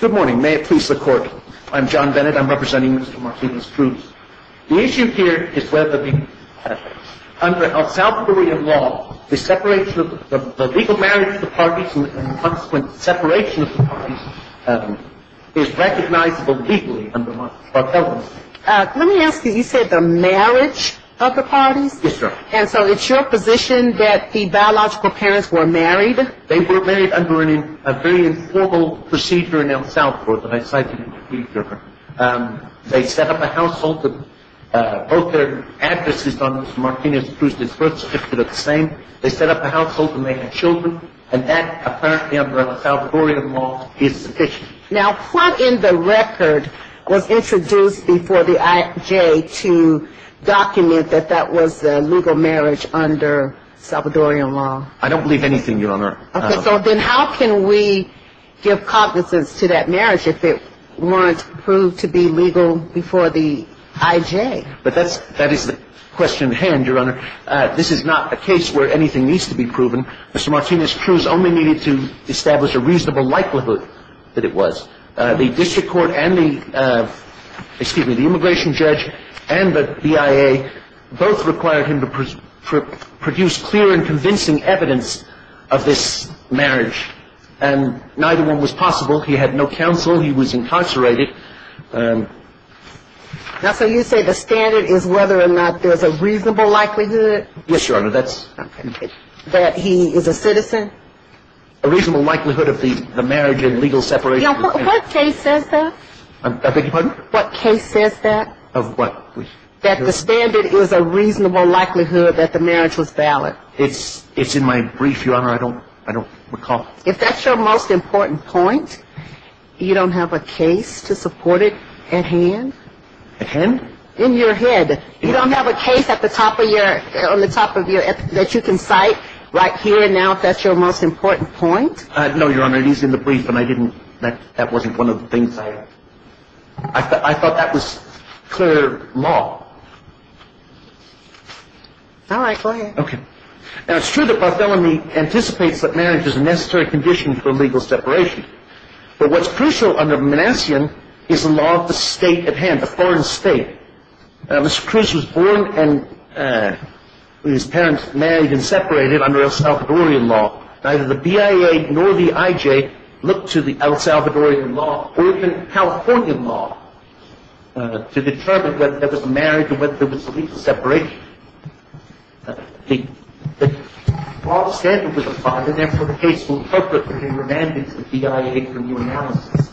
Good morning. May it please the Court. I'm John Bennett. I'm representing Mr. Martinez-Cruz. The issue here is whether, under El Salvadorian law, the separation of the legal marriage of the parties and the consequent separation of the parties is recognizable legally under Martelian law. Let me ask you, you said the marriage of the parties? Yes, Your Honor. And so it's your position that the biological parents were married? They were married under a very informal procedure in El Salvador that I cited in the Petitioner. They set up a household. Both their addresses on Mr. Martinez-Cruz, their birth certificates are the same. They set up a household and they had children, and that, apparently under El Salvadorian law, is sufficient. Now, what in the record was introduced before the IJ to document that that was the legal marriage under El Salvadorian law? I don't believe anything, Your Honor. Okay, so then how can we give cognizance to that marriage if it weren't proved to be legal before the IJ? But that is the question at hand, Your Honor. This is not a case where anything needs to be proven. Mr. Martinez-Cruz only needed to establish a reasonable likelihood that it was. The district court and the immigration judge and the BIA both required him to produce clear and convincing evidence of this marriage, and neither one was possible. He had no counsel. He was incarcerated. Now, so you say the standard is whether or not there's a reasonable likelihood? Yes, Your Honor. That he is a citizen? A reasonable likelihood of the marriage and legal separation. What case says that? I beg your pardon? What case says that? Of what? That the standard is a reasonable likelihood that the marriage was valid. It's in my brief, Your Honor. I don't recall. If that's your most important point, you don't have a case to support it at hand? At hand? In your head. You don't have a case at the top of your – on the top of your – that you can cite right here now if that's your most important point? No, Your Honor. It is in the brief, and I didn't – that wasn't one of the things I – I thought that was clear law. All right. Go ahead. Okay. Now, it's true that Barthelemy anticipates that marriage is a necessary condition for legal separation. But what's crucial under Manassian is the law of the state at hand, the foreign state. Now, Mr. Cruz was born and his parents married and separated under El Salvadorian law. Neither the BIA nor the IJ looked to the El Salvadorian law or even California law to determine whether there was marriage or whether there was legal separation. The law of the state was applied, and therefore, the case will interpret as a remand to the BIA for new analysis.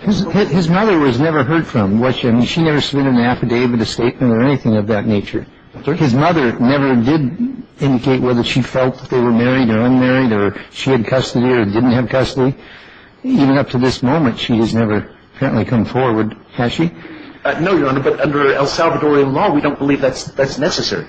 His mother was never heard from, was she? I mean, she never submitted an affidavit, a statement, or anything of that nature. His mother never did indicate whether she felt they were married or unmarried or she had custody or didn't have custody. Even up to this moment, she has never apparently come forward, has she? No, Your Honor, but under El Salvadorian law, we don't believe that's necessary.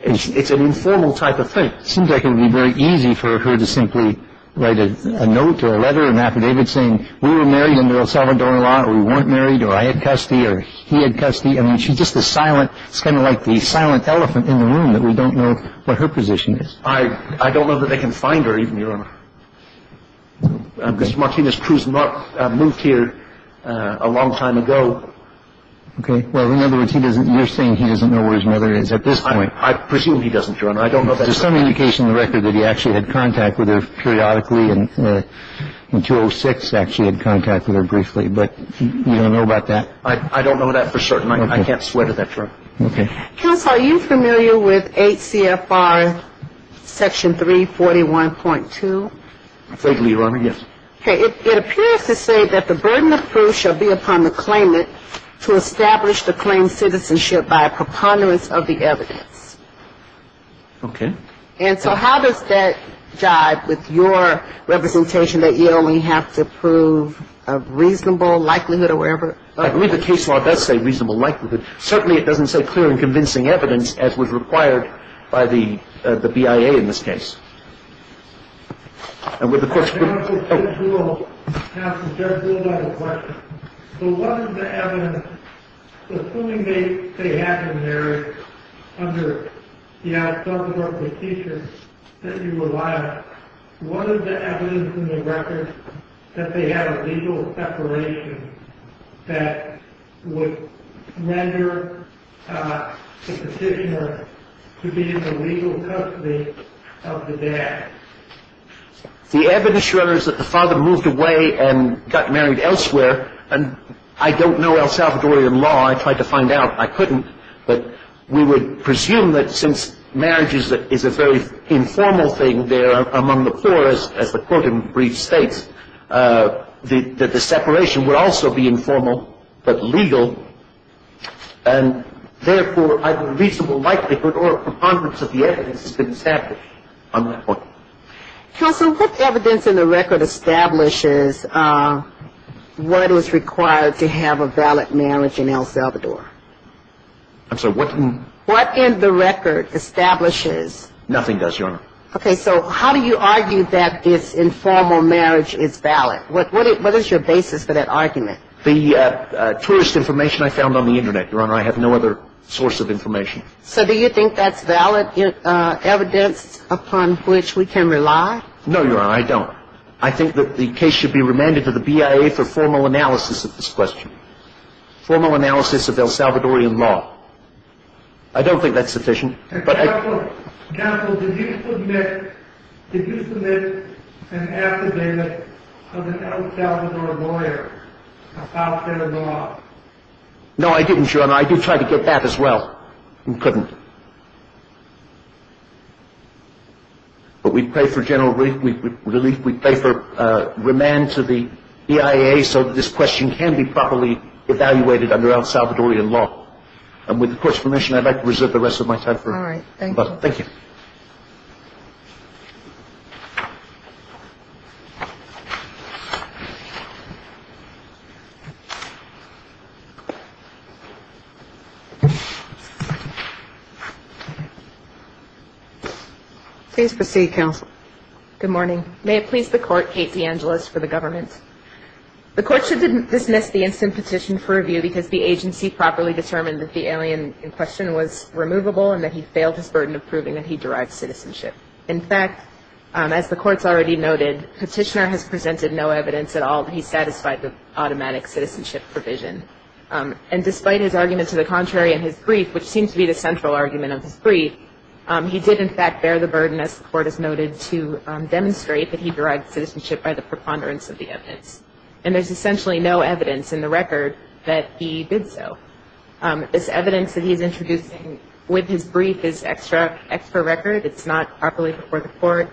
It's an informal type of thing. It seems like it would be very easy for her to simply write a note or a letter, an affidavit saying, we were married under El Salvadorian law or we weren't married or I had custody or he had custody. I mean, she's just a silent – it's kind of like the silent elephant in the room that we don't know what her position is. Mr. Martinez Cruz moved here a long time ago. Okay. Well, in other words, you're saying he doesn't know where his mother is at this point. I presume he doesn't, Your Honor. I don't know that for certain. There's some indication in the record that he actually had contact with her periodically and in 2006 actually had contact with her briefly, but you don't know about that? I don't know that for certain. I can't swear to that, Your Honor. Okay. Counsel, are you familiar with 8 CFR section 341.2? I'm afraid, Your Honor, yes. Okay. It appears to say that the burden of proof shall be upon the claimant to establish the claimed citizenship by a preponderance of the evidence. Okay. And so how does that jive with your representation that you only have to prove a reasonable likelihood or whatever? I believe the case law does say reasonable likelihood. Certainly it doesn't say clear and convincing evidence, as was required by the BIA in this case. And with the question of the court. Counsel, judge will have to judge you about a question. So what is the evidence? Assuming they have been married under the authority of the teacher that you rely on, what is the evidence in the record that they have a legal separation that would measure the petitioner to be in the legal custody of the dad? The evidence, Your Honor, is that the father moved away and got married elsewhere. And I don't know El Salvadorian law. I tried to find out. I couldn't. But we would presume that since marriage is a very informal thing there among the poor, as the court in brief states, that the separation would also be informal but legal. And, therefore, either reasonable likelihood or a preponderance of the evidence has been established on that point. Counsel, what evidence in the record establishes what is required to have a valid marriage in El Salvador? I'm sorry. What in the record establishes? Nothing does, Your Honor. Okay. So how do you argue that this informal marriage is valid? What is your basis for that argument? The tourist information I found on the Internet, Your Honor. I have no other source of information. So do you think that's valid evidence upon which we can rely? No, Your Honor. I don't. I think that the case should be remanded to the BIA for formal analysis of this question, formal analysis of El Salvadorian law. I don't think that's sufficient. Counsel, did you submit an affidavit of an El Salvador lawyer about their law? No, I didn't, Your Honor. No, I do try to get that as well. We couldn't. But we pray for general relief. We pray for remand to the BIA so that this question can be properly evaluated under El Salvadorian law. And with the Court's permission, I'd like to reserve the rest of my time. All right. Please proceed, Counsel. Good morning. May it please the Court, Kate DeAngelis, for the government. The Court should dismiss the instant petition for review because the agency properly determined that the alien in question was removable and that he failed his burden of proving that he derived citizenship. In fact, as the Court's already noted, Petitioner has presented no evidence at all that he satisfied the automatic citizenship provision. And despite his argument to the contrary in his brief, which seems to be the central argument of his brief, he did in fact bear the burden, as the Court has noted, to demonstrate that he derived citizenship by the preponderance of the evidence. And there's essentially no evidence in the record that he did so. This evidence that he's introducing with his brief is extra record. It's not properly before the Court.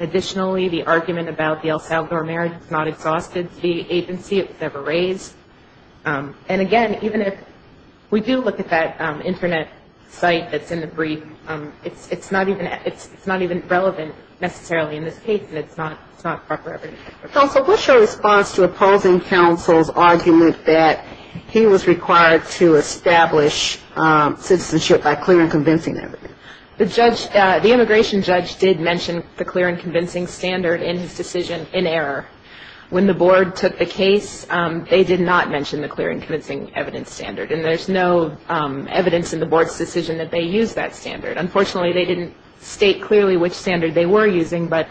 Additionally, the argument about the El Salvador marriage is not exhausted to the agency. It was never raised. And again, even if we do look at that Internet site that's in the brief, it's not even relevant necessarily in this case, and it's not proper evidence. Counsel, what's your response to opposing counsel's argument that he was required to establish citizenship by clear and convincing evidence? The immigration judge did mention the clear and convincing standard in his decision in error. When the Board took the case, they did not mention the clear and convincing evidence standard, and there's no evidence in the Board's decision that they used that standard. Unfortunately, they didn't state clearly which standard they were using, but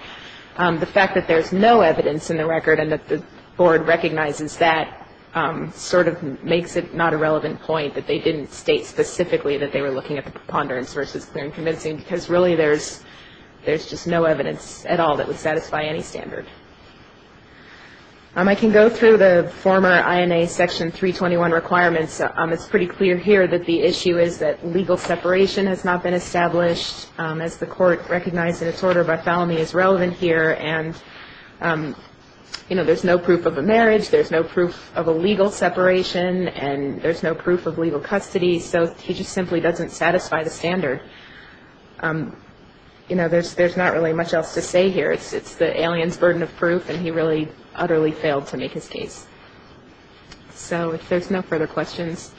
the fact that there's no evidence in the record and that the Board recognizes that sort of makes it not a relevant point, that they didn't state specifically that they were looking at the preponderance versus clear and convincing, because really there's just no evidence at all that would satisfy any standard. I can go through the former INA Section 321 requirements. It's pretty clear here that the issue is that legal separation has not been established, as the Court recognized in its order by felony is relevant here, and, you know, there's no proof of a marriage. There's no proof of a legal separation, and there's no proof of legal custody. So he just simply doesn't satisfy the standard. You know, there's not really much else to say here. It's the alien's burden of proof, and he really utterly failed to make his case. So if there's no further questions.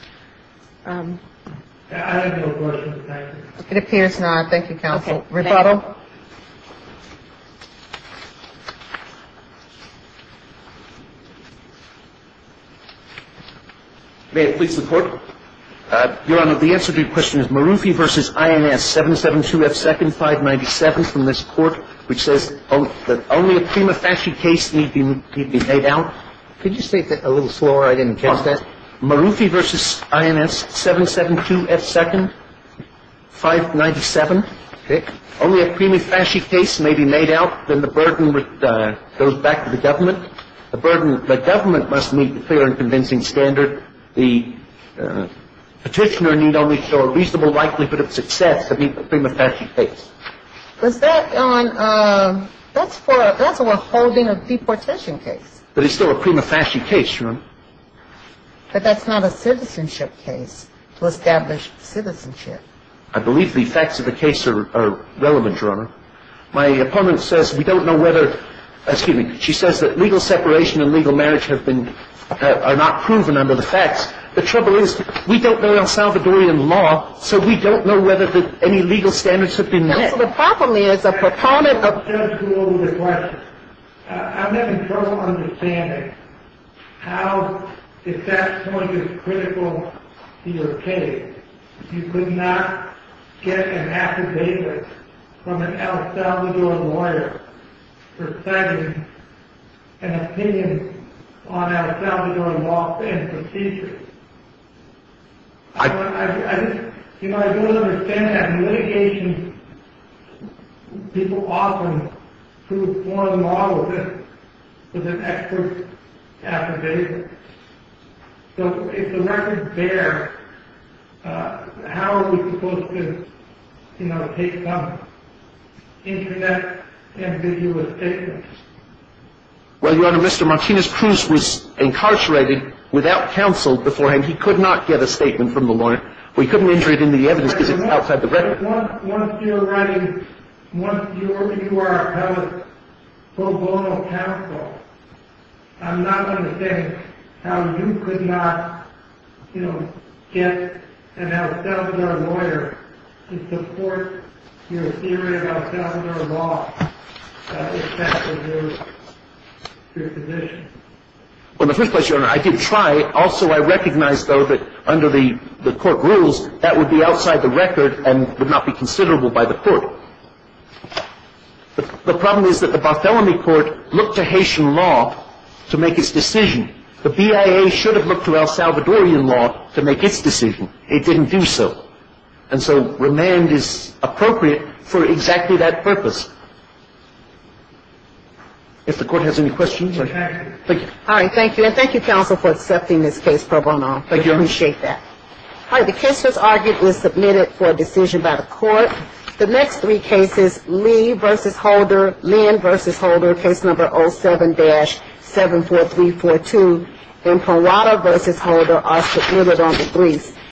It appears not. Thank you, counsel. Rebotto? May it please the Court? Your Honor, the answer to your question is Marufi v. INS, 772F2,597 from this court, which says that only a prima facie case need to be laid out. Could you state that a little slower? I didn't catch that. Marufi v. INS, 772F2,597. Only a prima facie case may be made out. Then the burden goes back to the government. The government must meet the clear and convincing standard. The Petitioner need only show a reasonable likelihood of success to meet the prima facie case. Was that on – that's for a holding of deportation case. But it's still a prima facie case, Your Honor. But that's not a citizenship case to establish citizenship. I believe the facts of the case are relevant, Your Honor. My opponent says we don't know whether – excuse me. She says that legal separation and legal marriage have been – are not proven under the facts. The trouble is we don't know El Salvadorian law, so we don't know whether any legal standards have been met. Counsel, the problem is a proponent of – I'll just go over the question. I'm having trouble understanding how, if that point is critical to your case, you could not get an affidavit from an El Salvador lawyer for citing an opinion on El Salvador law and procedures. I just – you know, I don't understand that litigation people often prove foreign law with an expert affidavit. So if the record's bare, how are we supposed to, you know, take some internet ambiguous statements? Well, Your Honor, Mr. Martinez-Cruz was incarcerated without counsel beforehand. He could not get a statement from the lawyer. We couldn't enter it into the evidence because it's outside the record. Once you're running – once you are a pro bono counsel, I'm not going to say how you could not, you know, get an El Salvador lawyer to support your theory of El Salvador law. That would affect your position. Well, in the first place, Your Honor, I did try. Also, I recognize, though, that under the court rules, that would be outside the record and would not be considerable by the court. The problem is that the Bartholomew Court looked to Haitian law to make its decision. The BIA should have looked to El Salvadorian law to make its decision. It didn't do so. And so remand is appropriate for exactly that purpose. If the court has any questions, I can – thank you. All right, thank you. And thank you, counsel, for accepting this case pro bono. Thank you. We appreciate that. All right, the case that was argued was submitted for a decision by the court. The next three cases, Lee v. Holder, Lynn v. Holder, case number 07-74342, and Peralta v. Holder are submitted on the threes.